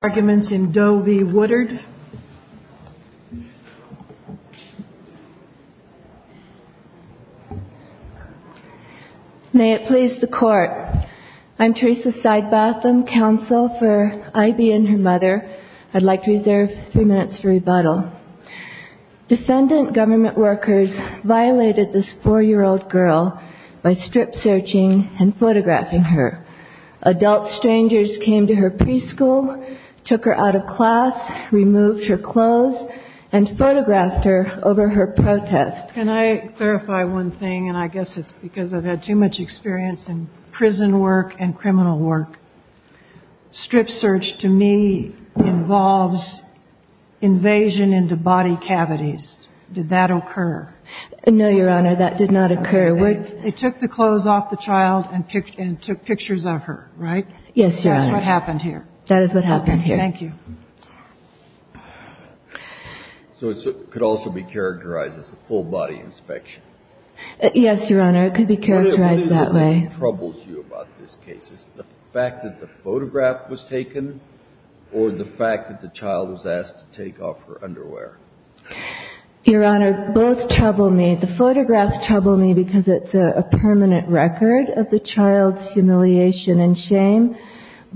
Arguments in Doe v. Woodard May it please the court I'm Teresa Sidebatham, counsel for Ivey and her mother. I'd like to reserve three minutes for rebuttal Defendant government workers violated this four-year-old girl by strip searching and photographing her Adult strangers came to her preschool, took her out of class, removed her clothes, and photographed her over her protest Can I clarify one thing, and I guess it's because I've had too much experience in prison work and criminal work Strip search, to me, involves invasion into body cavities. Did that occur? No, Your Honor, that did not occur They took the clothes off the child and took pictures of her, right? Yes, Your Honor That's what happened here That is what happened here Thank you So it could also be characterized as a full-body inspection Yes, Your Honor, it could be characterized that way What is it that troubles you about this case? Is it the fact that the photograph was taken or the fact that the child was asked to take off her underwear? Your Honor, both trouble me. The photographs trouble me because it's a permanent record of the child's humiliation and shame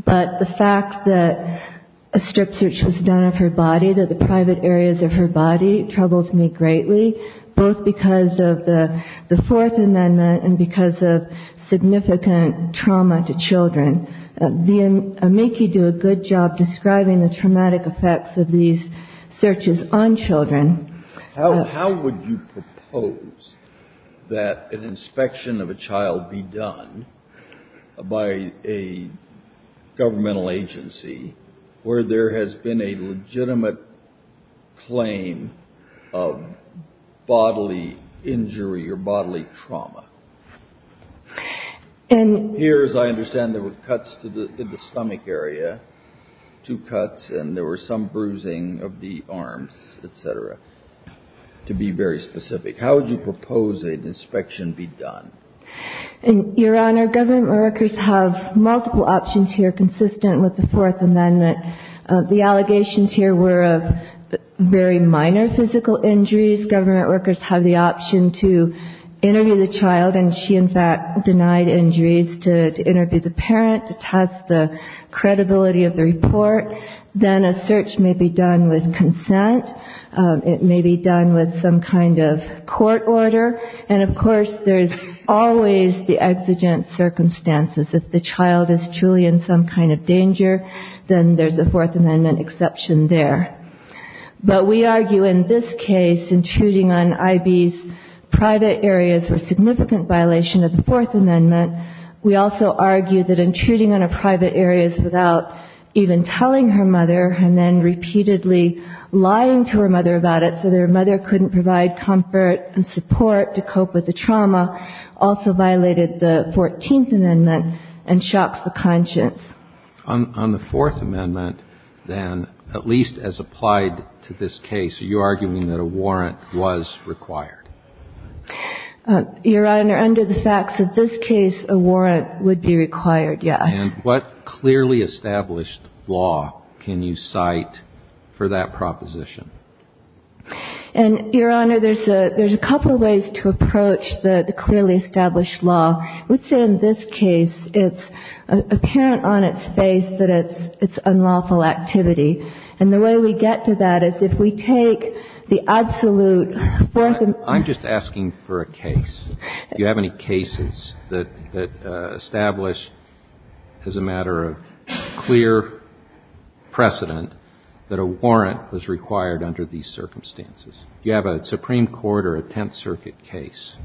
But the fact that a strip search was done of her body, that the private areas of her body, troubles me greatly Both because of the Fourth Amendment and because of significant trauma to children The amici do a good job describing the traumatic effects of these searches on children How would you propose that an inspection of a child be done by a governmental agency where there has been a legitimate claim of bodily injury or bodily trauma? Here, as I understand, there were cuts to the stomach area, two cuts, and there was some bruising of the arms, etc., to be very specific How would you propose an inspection be done? Your Honor, government workers have multiple options here consistent with the Fourth Amendment The allegations here were of very minor physical injuries These government workers have the option to interview the child, and she in fact denied injuries, to interview the parent, to test the credibility of the report Then a search may be done with consent, it may be done with some kind of court order And of course, there's always the exigent circumstances If the child is truly in some kind of danger, then there's a Fourth Amendment exception there But we argue in this case, intruding on I.B.'s private areas was a significant violation of the Fourth Amendment We also argue that intruding on her private areas without even telling her mother, and then repeatedly lying to her mother about it so that her mother couldn't provide comfort and support to cope with the trauma, also violated the Fourteenth Amendment and shocks the conscience On the Fourth Amendment, then, at least as applied to this case, are you arguing that a warrant was required? Your Honor, under the facts of this case, a warrant would be required, yes And what clearly established law can you cite for that proposition? Your Honor, there's a couple of ways to approach the clearly established law Let's say in this case, it's apparent on its face that it's unlawful activity And the way we get to that is if we take the absolute Fourth Amendment I'm just asking for a case Do you have any cases that establish, as a matter of clear precedent, that a warrant was required under these circumstances? Do you have a Supreme Court or a Tenth Circuit case?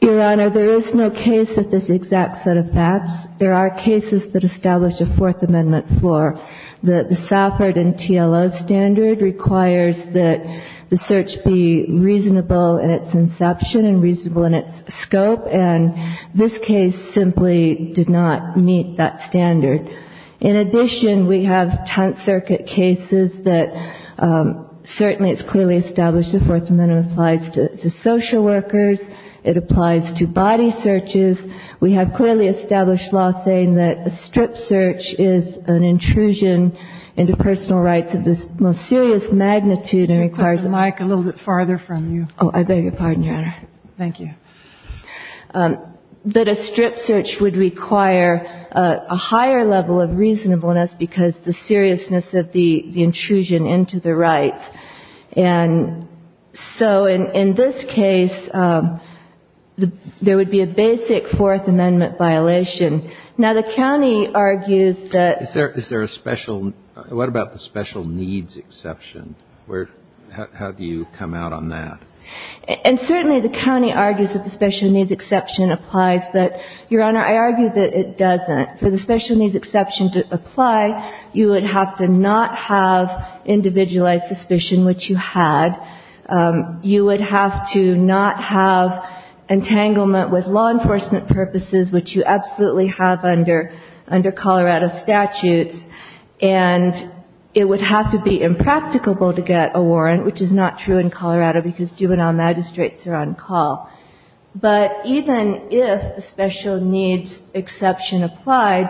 Your Honor, there is no case with this exact set of facts There are cases that establish a Fourth Amendment floor The Safford and TLO standard requires that the search be reasonable in its inception and reasonable in its scope And this case simply did not meet that standard In addition, we have Tenth Circuit cases that certainly it's clearly established the Fourth Amendment applies to social workers It applies to body searches We have clearly established law saying that a strip search is an intrusion into personal rights of the most serious magnitude and requires Could you put the mic a little bit farther from you? Oh, I beg your pardon, Your Honor Thank you That a strip search would require a higher level of reasonableness because the seriousness of the intrusion into the rights And so in this case, there would be a basic Fourth Amendment violation Now the county argues that Is there a special, what about the special needs exception? How do you come out on that? And certainly the county argues that the special needs exception applies But, Your Honor, I argue that it doesn't For the special needs exception to apply, you would have to not have individualized suspicion, which you had You would have to not have entanglement with law enforcement purposes, which you absolutely have under Colorado statutes And it would have to be impracticable to get a warrant, which is not true in Colorado because juvenile magistrates are on call But even if a special needs exception applied,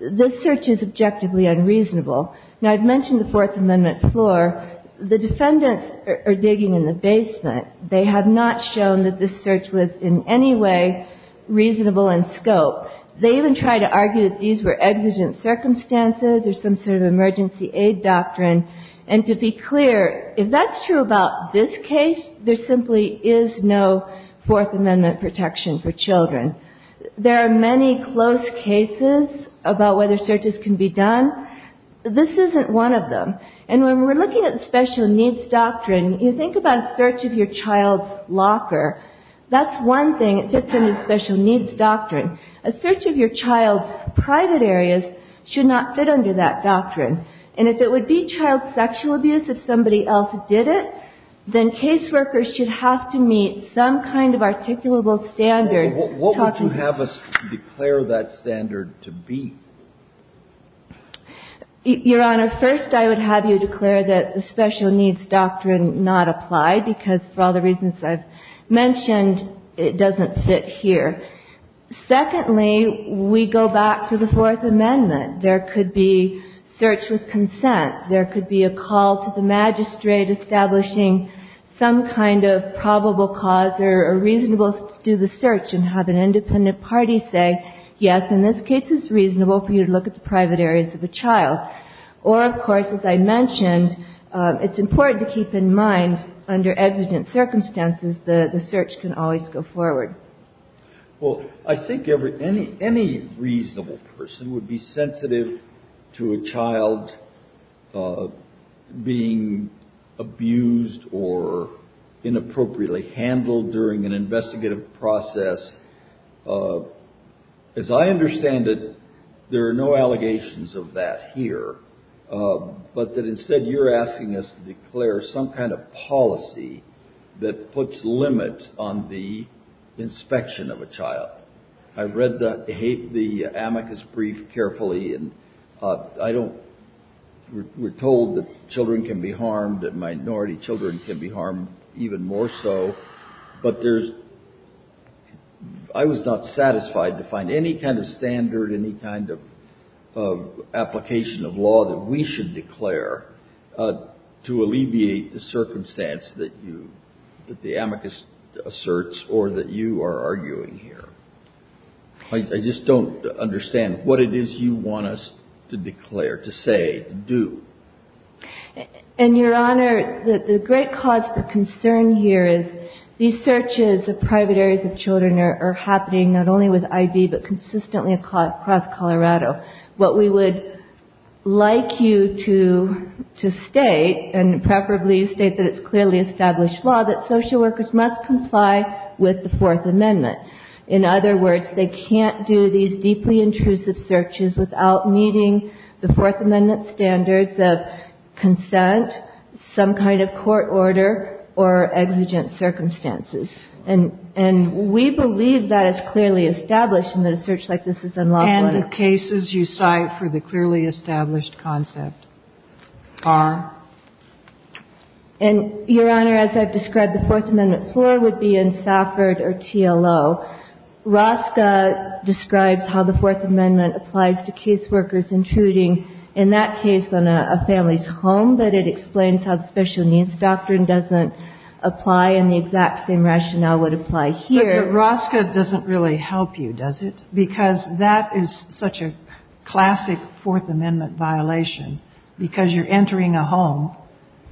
this search is objectively unreasonable Now I've mentioned the Fourth Amendment floor The defendants are digging in the basement They have not shown that this search was in any way reasonable in scope They even try to argue that these were exigent circumstances or some sort of emergency aid doctrine And to be clear, if that's true about this case, there simply is no Fourth Amendment protection for children There are many close cases about whether searches can be done This isn't one of them And when we're looking at the special needs doctrine, you think about search of your child's locker That's one thing that fits in the special needs doctrine A search of your child's private areas should not fit under that doctrine And if it would be child sexual abuse if somebody else did it, then caseworkers should have to meet some kind of articulable standard What would you have us declare that standard to be? Your Honor, first I would have you declare that the special needs doctrine not applied Because for all the reasons I've mentioned, it doesn't fit here Secondly, we go back to the Fourth Amendment There could be search with consent There could be a call to the magistrate establishing some kind of probable cause or reasonable to do the search And have an independent party say, yes, in this case it's reasonable for you to look at the private areas of a child Or, of course, as I mentioned, it's important to keep in mind, under exigent circumstances, the search can always go forward Well, I think any reasonable person would be sensitive to a child being abused or inappropriately handled during an investigative process As I understand it, there are no allegations of that here But that instead you're asking us to declare some kind of policy that puts limits on the inspection of a child I've read the amicus brief carefully We're told that children can be harmed, that minority children can be harmed even more so But I was not satisfied to find any kind of standard, any kind of application of law that we should declare To alleviate the circumstance that the amicus asserts or that you are arguing here I just don't understand what it is you want us to declare, to say, to do And, Your Honor, the great cause for concern here is these searches of private areas of children are happening not only with IV But consistently across Colorado What we would like you to state, and preferably you state that it's clearly established law That social workers must comply with the Fourth Amendment In other words, they can't do these deeply intrusive searches without meeting the Fourth Amendment standards of consent, some kind of court order, or exigent circumstances And we believe that it's clearly established and that a search like this is unlawful And the cases you cite for the clearly established concept are? And, Your Honor, as I've described, the Fourth Amendment floor would be in Safford or TLO Rosca describes how the Fourth Amendment applies to caseworkers intruding, in that case, on a family's home But it explains how the special needs doctrine doesn't apply and the exact same rationale would apply here But the Rosca doesn't really help you, does it? Because that is such a classic Fourth Amendment violation Because you're entering a home,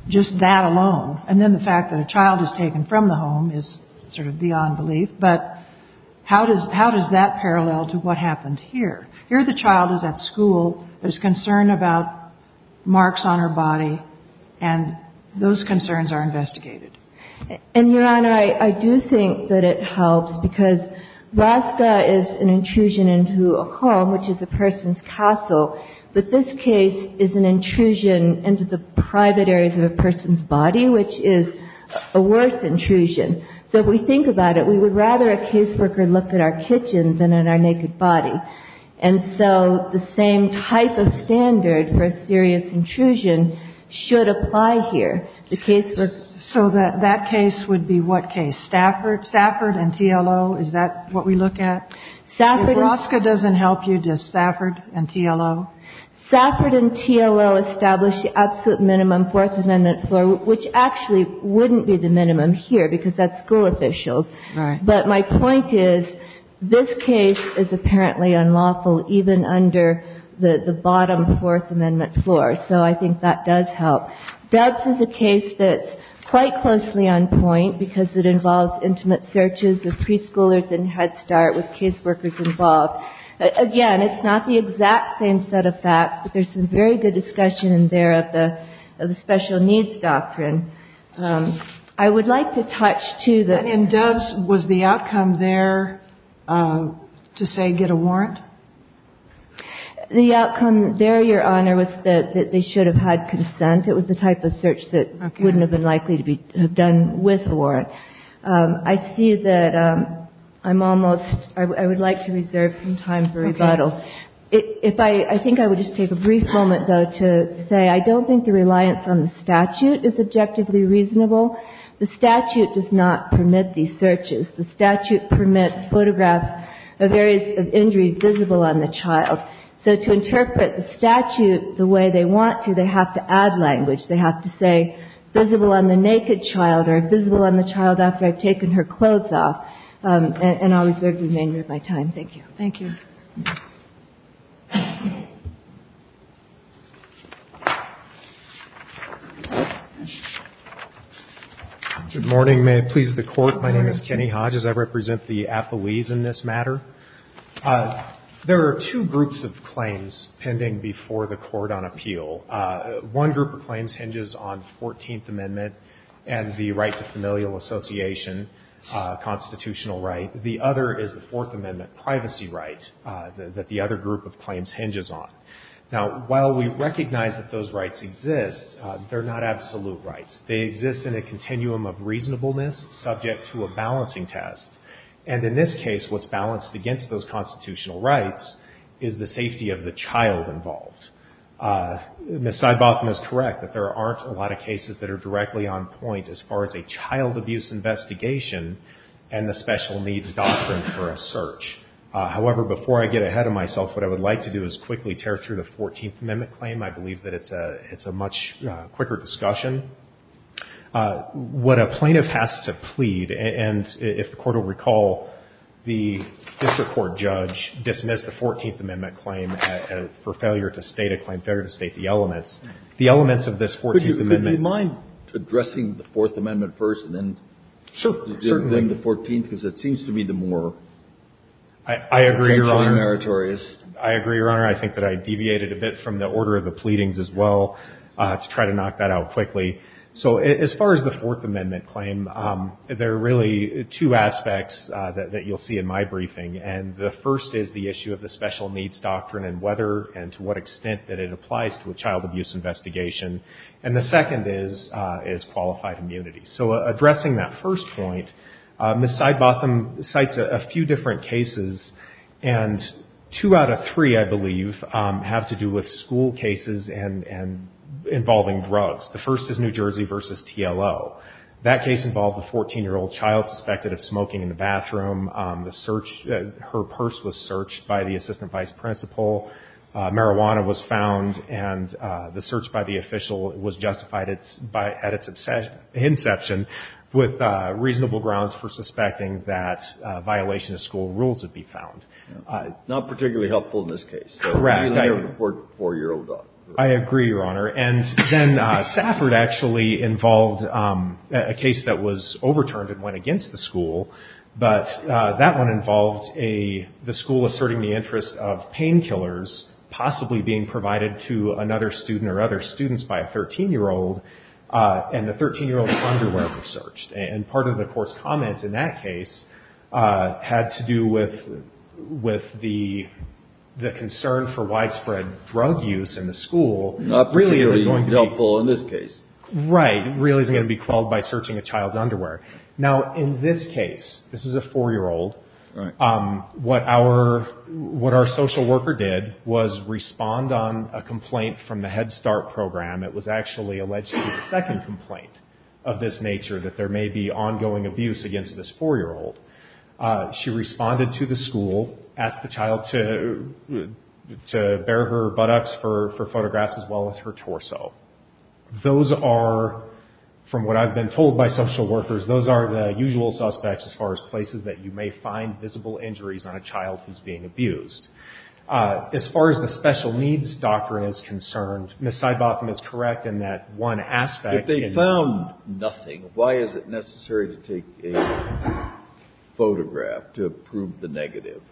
just that alone And then the fact that a child is taken from the home is sort of beyond belief But how does that parallel to what happened here? Here the child is at school, there's concern about marks on her body, and those concerns are investigated And, Your Honor, I do think that it helps because Rosca is an intrusion into a home, which is a person's castle But this case is an intrusion into the private areas of a person's body, which is a worse intrusion So if we think about it, we would rather a caseworker look at our kitchen than at our naked body And so the same type of standard for a serious intrusion should apply here So that case would be what case? Stafford? Stafford and TLO? Is that what we look at? If Rosca doesn't help you, does Stafford and TLO? Stafford and TLO establish the absolute minimum Fourth Amendment floor Which actually wouldn't be the minimum here because that's school officials But my point is, this case is apparently unlawful even under the bottom Fourth Amendment floor So I think that does help. Doves is a case that's quite closely on point Because it involves intimate searches of preschoolers in Head Start with caseworkers involved Again, it's not the exact same set of facts, but there's some very good discussion in there of the special needs doctrine I would like to touch, too, that In Doves, was the outcome there to say get a warrant? The outcome there, Your Honor, was that they should have had consent It was the type of search that wouldn't have been likely to have been done with a warrant I see that I'm almost, I would like to reserve some time for rebuttal I think I would just take a brief moment, though, to say I don't think the reliance on the statute is objectively reasonable The statute does not permit these searches The statute permits photographs of areas of injury visible on the child So to interpret the statute the way they want to, they have to add language They have to say visible on the naked child or visible on the child after I've taken her clothes off And I'll reserve the remainder of my time. Thank you Thank you Good morning. May it please the Court. My name is Kenny Hodges. I represent the Apoese in this matter There are two groups of claims pending before the Court on appeal One group of claims hinges on 14th Amendment and the right to familial association constitutional right The other is the Fourth Amendment privacy right that the other group of claims hinges on Now, while we recognize that those rights exist, they're not absolute rights They exist in a continuum of reasonableness subject to a balancing test And in this case, what's balanced against those constitutional rights is the safety of the child involved Ms. Seibotham is correct that there aren't a lot of cases that are directly on point as far as a child abuse investigation and the special needs doctrine for a search However, before I get ahead of myself, what I would like to do is quickly tear through the 14th Amendment claim I believe that it's a much quicker discussion What a plaintiff has to plead, and if the Court will recall, the district court judge dismissed the 14th Amendment claim for failure to state a claim, failure to state the elements The elements of this 14th Amendment Would you mind addressing the Fourth Amendment first and then the 14th? Because it seems to me the more potentially meritorious I agree, Your Honor I think that I deviated a bit from the order of the pleadings as well to try to knock that out quickly So as far as the Fourth Amendment claim, there are really two aspects that you'll see in my briefing And the first is the issue of the special needs doctrine and whether and to what extent that it applies to a child abuse investigation And the second is qualified immunity So addressing that first point, Ms. Seibotham cites a few different cases And two out of three, I believe, have to do with school cases involving drugs The first is New Jersey v. TLO That case involved a 14-year-old child suspected of smoking in the bathroom Her purse was searched by the assistant vice principal Marijuana was found, and the search by the official was justified at its inception With reasonable grounds for suspecting that violation of school rules would be found Not particularly helpful in this case A four-year-old daughter I agree, Your Honor And then Safford actually involved a case that was overturned and went against the school But that one involved the school asserting the interest of painkillers possibly being provided to another student or other students by a 13-year-old And the 13-year-old's underwear was searched And part of the court's comment in that case had to do with the concern for widespread drug use in the school Not particularly helpful in this case Right, really isn't going to be quelled by searching a child's underwear Now, in this case, this is a four-year-old What our social worker did was respond on a complaint from the Head Start program It was actually allegedly a second complaint of this nature, that there may be ongoing abuse against this four-year-old She responded to the school, asked the child to bare her buttocks for photographs as well as her torso Those are, from what I've been told by social workers, those are the usual suspects as far as places that you may find visible injuries on a child who's being abused As far as the special needs doctrine is concerned, Ms. Seibotham is correct in that one aspect If they found nothing, why is it necessary to take a photograph to prove the negative?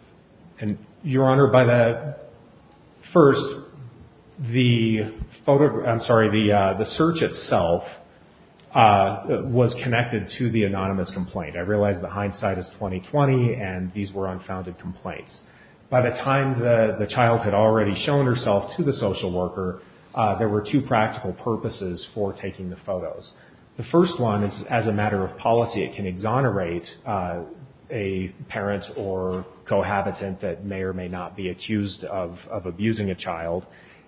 Your Honor, first, the search itself was connected to the anonymous complaint I realize the hindsight is 20-20 and these were unfounded complaints By the time the child had already shown herself to the social worker, there were two practical purposes for taking the photos The first one is as a matter of policy, it can exonerate a parent or cohabitant that may or may not be accused of abusing a child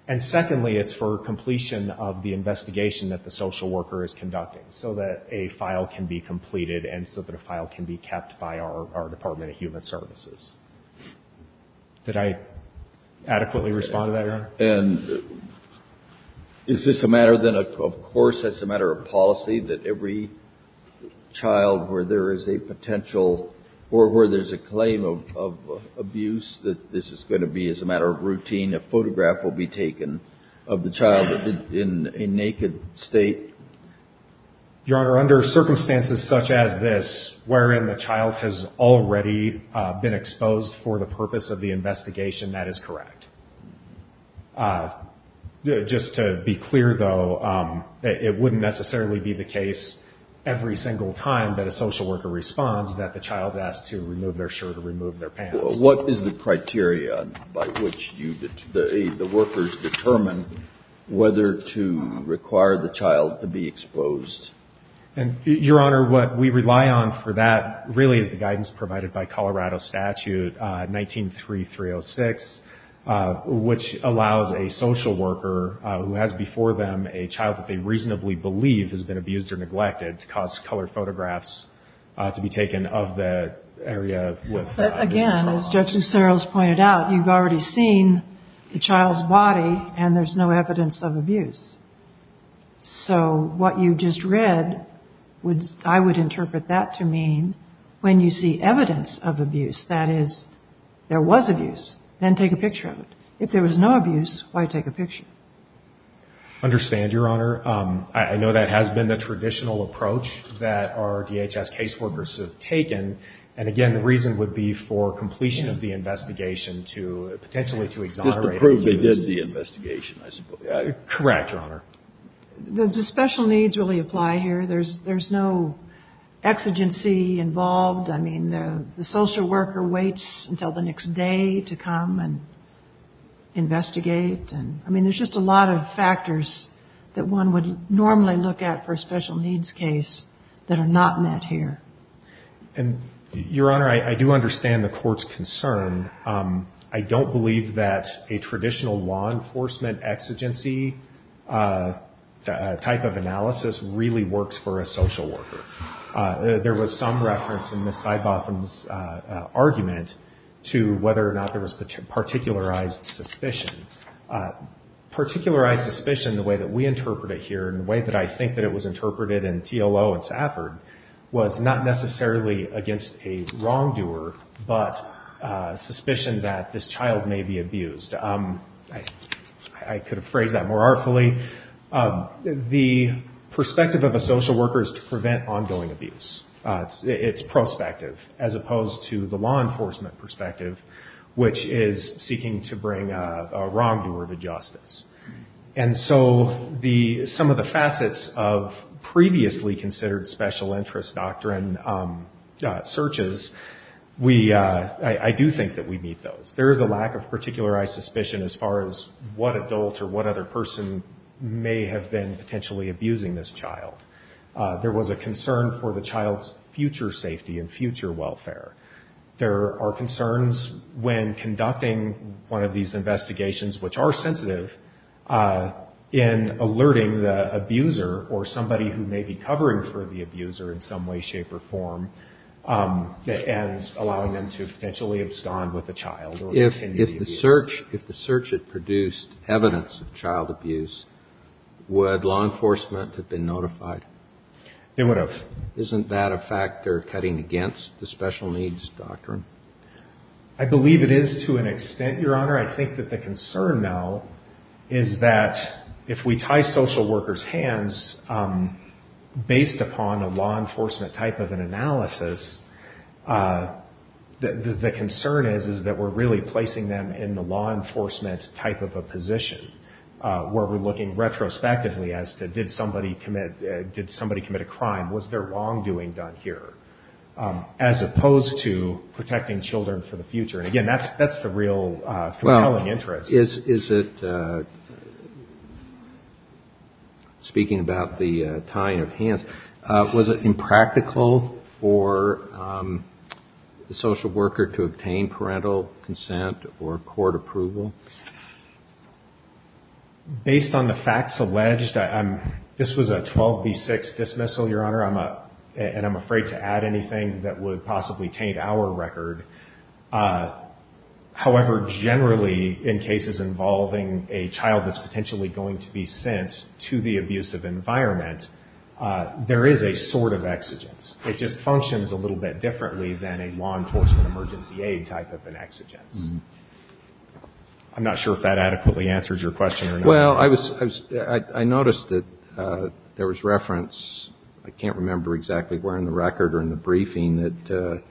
And secondly, it's for completion of the investigation that the social worker is conducting So that a file can be completed and so that a file can be kept by our Department of Human Services Did I adequately respond to that, Your Honor? And is this a matter of course, that's a matter of policy, that every child where there is a potential or where there's a claim of abuse That this is going to be as a matter of routine, a photograph will be taken of the child in a naked state? Your Honor, under circumstances such as this, wherein the child has already been exposed for the purpose of the investigation, that is correct Just to be clear though, it wouldn't necessarily be the case every single time that a social worker responds That the child is asked to remove their shirt or remove their pants So what is the criteria by which the workers determine whether to require the child to be exposed? Your Honor, what we rely on for that really is the guidance provided by Colorado Statute 19-3306 Which allows a social worker who has before them a child that they reasonably believe has been abused or neglected To cause colored photographs to be taken of the area with the child But again, as Judge Lucero has pointed out, you've already seen the child's body and there's no evidence of abuse So what you just read, I would interpret that to mean when you see evidence of abuse, that is, there was abuse, then take a picture of it If there was no abuse, why take a picture? I understand, Your Honor. I know that has been the traditional approach that our DHS case workers have taken And again, the reason would be for completion of the investigation to, potentially to exonerate abuse Just to prove they did the investigation, I suppose Correct, Your Honor Does the special needs really apply here? There's no exigency involved I mean, the social worker waits until the next day to come and investigate I mean, there's just a lot of factors that one would normally look at for a special needs case that are not met here Your Honor, I do understand the court's concern I don't believe that a traditional law enforcement exigency type of analysis really works for a social worker There was some reference in Ms. Sidebotham's argument to whether or not there was particularized suspicion Particularized suspicion, the way that we interpret it here, and the way that I think it was interpreted in TLO and Stafford Was not necessarily against a wrongdoer, but suspicion that this child may be abused I could have phrased that more artfully The perspective of a social worker is to prevent ongoing abuse It's prospective, as opposed to the law enforcement perspective, which is seeking to bring a wrongdoer to justice And so, some of the facets of previously considered special interest doctrine searches, I do think that we meet those There is a lack of particularized suspicion as far as what adult or what other person may have been potentially abusing this child There was a concern for the child's future safety and future welfare There are concerns when conducting one of these investigations, which are sensitive In alerting the abuser, or somebody who may be covering for the abuser in some way, shape, or form And allowing them to potentially abscond with the child If the search had produced evidence of child abuse, would law enforcement have been notified? They would have Isn't that a factor cutting against the special needs doctrine? The concern now is that if we tie social workers' hands based upon a law enforcement type of analysis The concern is that we're really placing them in the law enforcement type of a position Where we're looking retrospectively as to did somebody commit a crime? Was there wrongdoing done here? As opposed to protecting children for the future Again, that's the real compelling interest Speaking about the tying of hands, was it impractical for the social worker to obtain parental consent or court approval? Based on the facts alleged, this was a 12 v. 6 dismissal, Your Honor I'm afraid to add anything that would possibly taint our record However, generally, in cases involving a child that's potentially going to be sent to the abusive environment There is a sort of exigence It just functions a little bit differently than a law enforcement emergency aid type of an exigence I'm not sure if that adequately answers your question Well, I noticed that there was reference I can't remember exactly where in the record or in the briefing That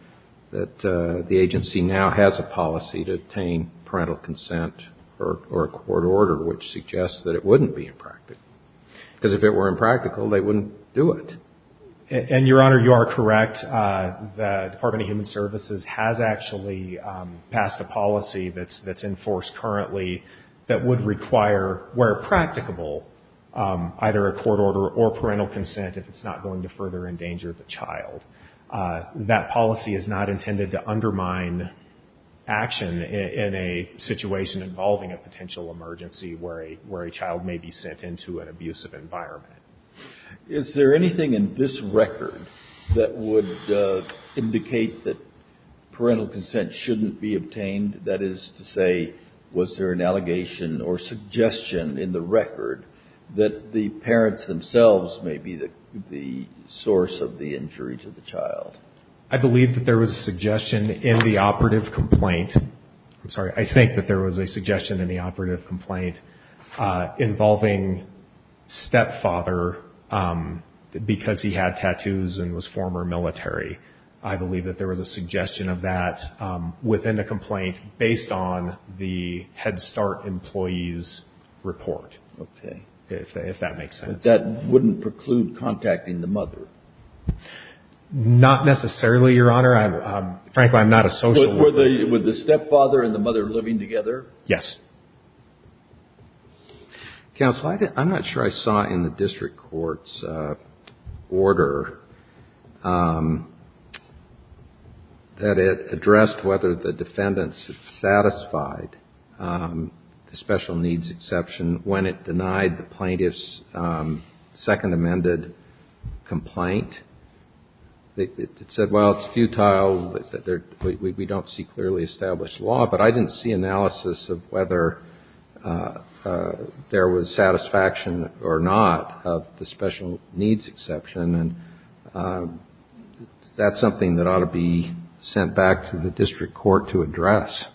the agency now has a policy to obtain parental consent or a court order Which suggests that it wouldn't be impractical Because if it were impractical, they wouldn't do it And, Your Honor, you are correct The Department of Human Services has actually passed a policy that's in force currently That would require, where practicable, either a court order or parental consent If it's not going to further endanger the child That policy is not intended to undermine action in a situation involving a potential emergency Where a child may be sent into an abusive environment Is there anything in this record that would indicate that parental consent shouldn't be obtained? That is to say, was there an allegation or suggestion in the record That the parents themselves may be the source of the injury to the child? I believe that there was a suggestion in the operative complaint I'm sorry, I think that there was a suggestion in the operative complaint Involving stepfather because he had tattoos and was former military I believe that there was a suggestion of that within the complaint Based on the Head Start employee's report Okay If that makes sense That wouldn't preclude contacting the mother? Not necessarily, Your Honor Frankly, I'm not a social worker With the stepfather and the mother living together? Yes Counsel, I'm not sure I saw in the district court's order That it addressed whether the defendants satisfied the special needs exception When it denied the plaintiff's second amended complaint It said, well, it's futile, we don't see clearly established law But I didn't see analysis of whether there was satisfaction or not Of the special needs exception Is that something that ought to be sent back to the district court to address?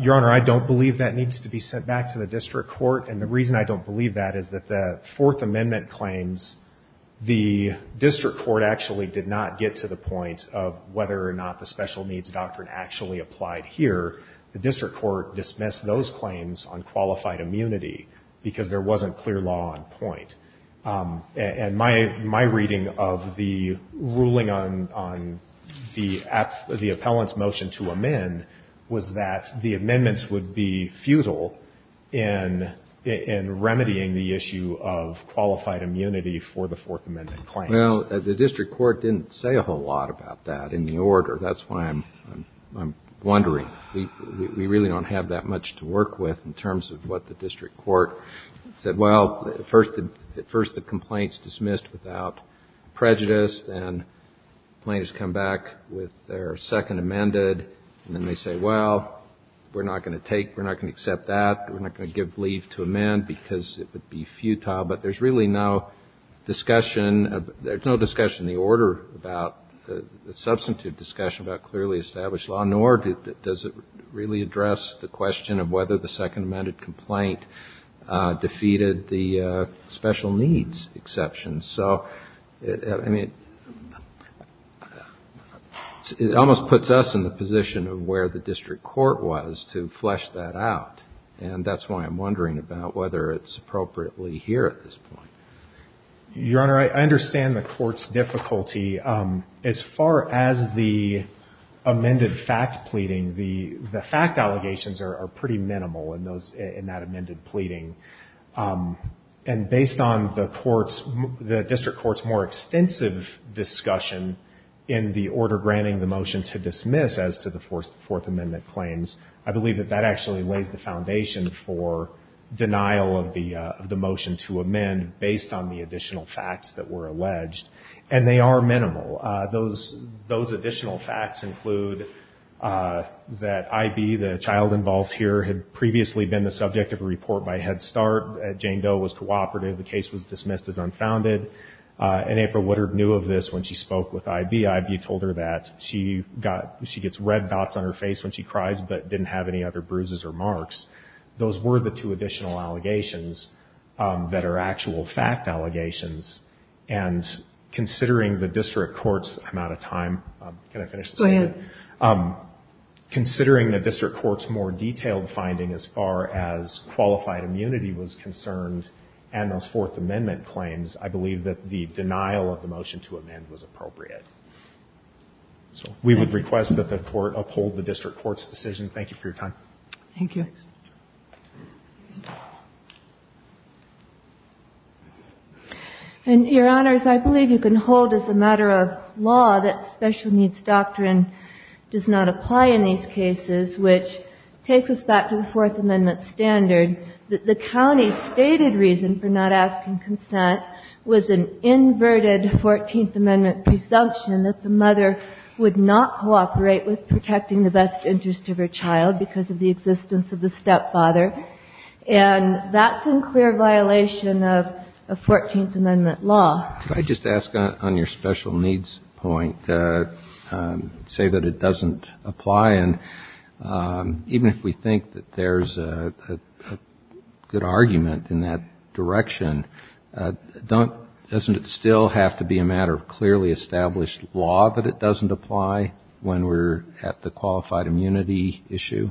Your Honor, I don't believe that needs to be sent back to the district court And the reason I don't believe that is that the fourth amendment claims The district court actually did not get to the point Of whether or not the special needs doctrine actually applied here The district court dismissed those claims on qualified immunity Because there wasn't clear law on point And my reading of the ruling on the appellant's motion to amend Was that the amendments would be futile In remedying the issue of qualified immunity for the fourth amendment claims Well, the district court didn't say a whole lot about that in the order That's why I'm wondering We really don't have that much to work with In terms of what the district court said Well, at first the complaint's dismissed without prejudice And plaintiffs come back with their second amended And then they say, well, we're not going to take We're not going to accept that We're not going to give leave to amend Because it would be futile But there's really no discussion There's no discussion in the order About the substantive discussion about clearly established law Nor does it really address the question of whether the second amended complaint Defeated the special needs exception So, I mean, it almost puts us in the position of where the district court was To flesh that out And that's why I'm wondering about whether it's appropriately here at this point Your Honor, I understand the court's difficulty As far as the amended fact pleading The fact allegations are pretty minimal in that amended pleading And based on the court's The district court's more extensive discussion In the order granting the motion to dismiss As to the fourth amendment claims I believe that that actually lays the foundation For denial of the motion to amend Based on the additional facts that were alleged And they are minimal Those additional facts include That I.B., the child involved here Had previously been the subject of a report by Head Start Jane Doe was cooperative The case was dismissed as unfounded And April Woodard knew of this when she spoke with I.B. I.B. told her that she gets red dots on her face when she cries But didn't have any other bruises or marks Those were the two additional allegations That are actual fact allegations And considering the district court's I'm out of time Can I finish this? Go ahead Considering the district court's more detailed finding As far as qualified immunity was concerned And those fourth amendment claims I believe that the denial of the motion to amend was appropriate We would request that the court uphold the district court's decision Thank you for your time Thank you And your honors, I believe you can hold as a matter of law That special needs doctrine does not apply in these cases Which takes us back to the fourth amendment standard That the county's stated reason for not asking consent Was an inverted fourteenth amendment presumption That the mother would not cooperate with protecting the best interest of her child Because of the existence of the stepfather And that's in clear violation of fourteenth amendment law Could I just ask on your special needs point Say that it doesn't apply And even if we think that there's a good argument in that direction Doesn't it still have to be a matter of clearly established law That it doesn't apply when we're at the qualified immunity issue?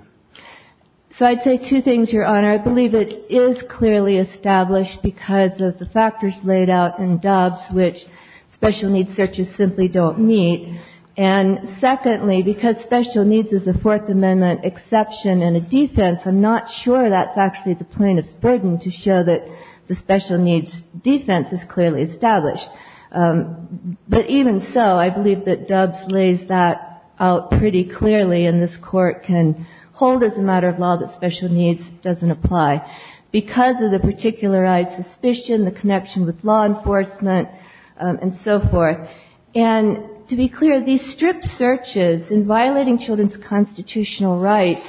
So I'd say two things, your honor I believe it is clearly established Because of the factors laid out in Doves Which special needs searches simply don't meet And secondly, because special needs is a fourth amendment exception And a defense I'm not sure that's actually the plaintiff's burden To show that the special needs defense is clearly established But even so, I believe that Doves lays that out pretty clearly And this court can hold as a matter of law that special needs doesn't apply Because of the particularized suspicion The connection with law enforcement and so forth And to be clear, these stripped searches In violating children's constitutional rights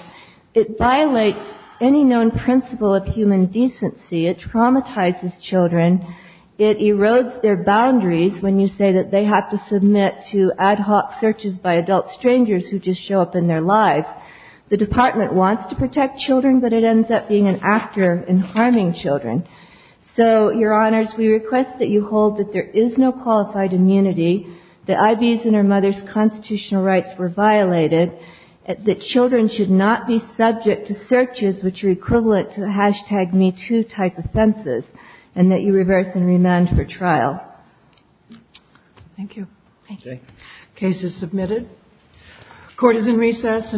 It violates any known principle of human decency It traumatizes children It erodes their boundaries When you say that they have to submit to ad hoc searches by adult strangers Who just show up in their lives The department wants to protect children But it ends up being an actor in harming children So, your honors, we request that you hold that there is no qualified immunity That I.B.'s and her mother's constitutional rights were violated That children should not be subject to searches Which are equivalent to the hashtag me too type offenses And that you reverse and remand for trial Thank you Case is submitted Court is in recess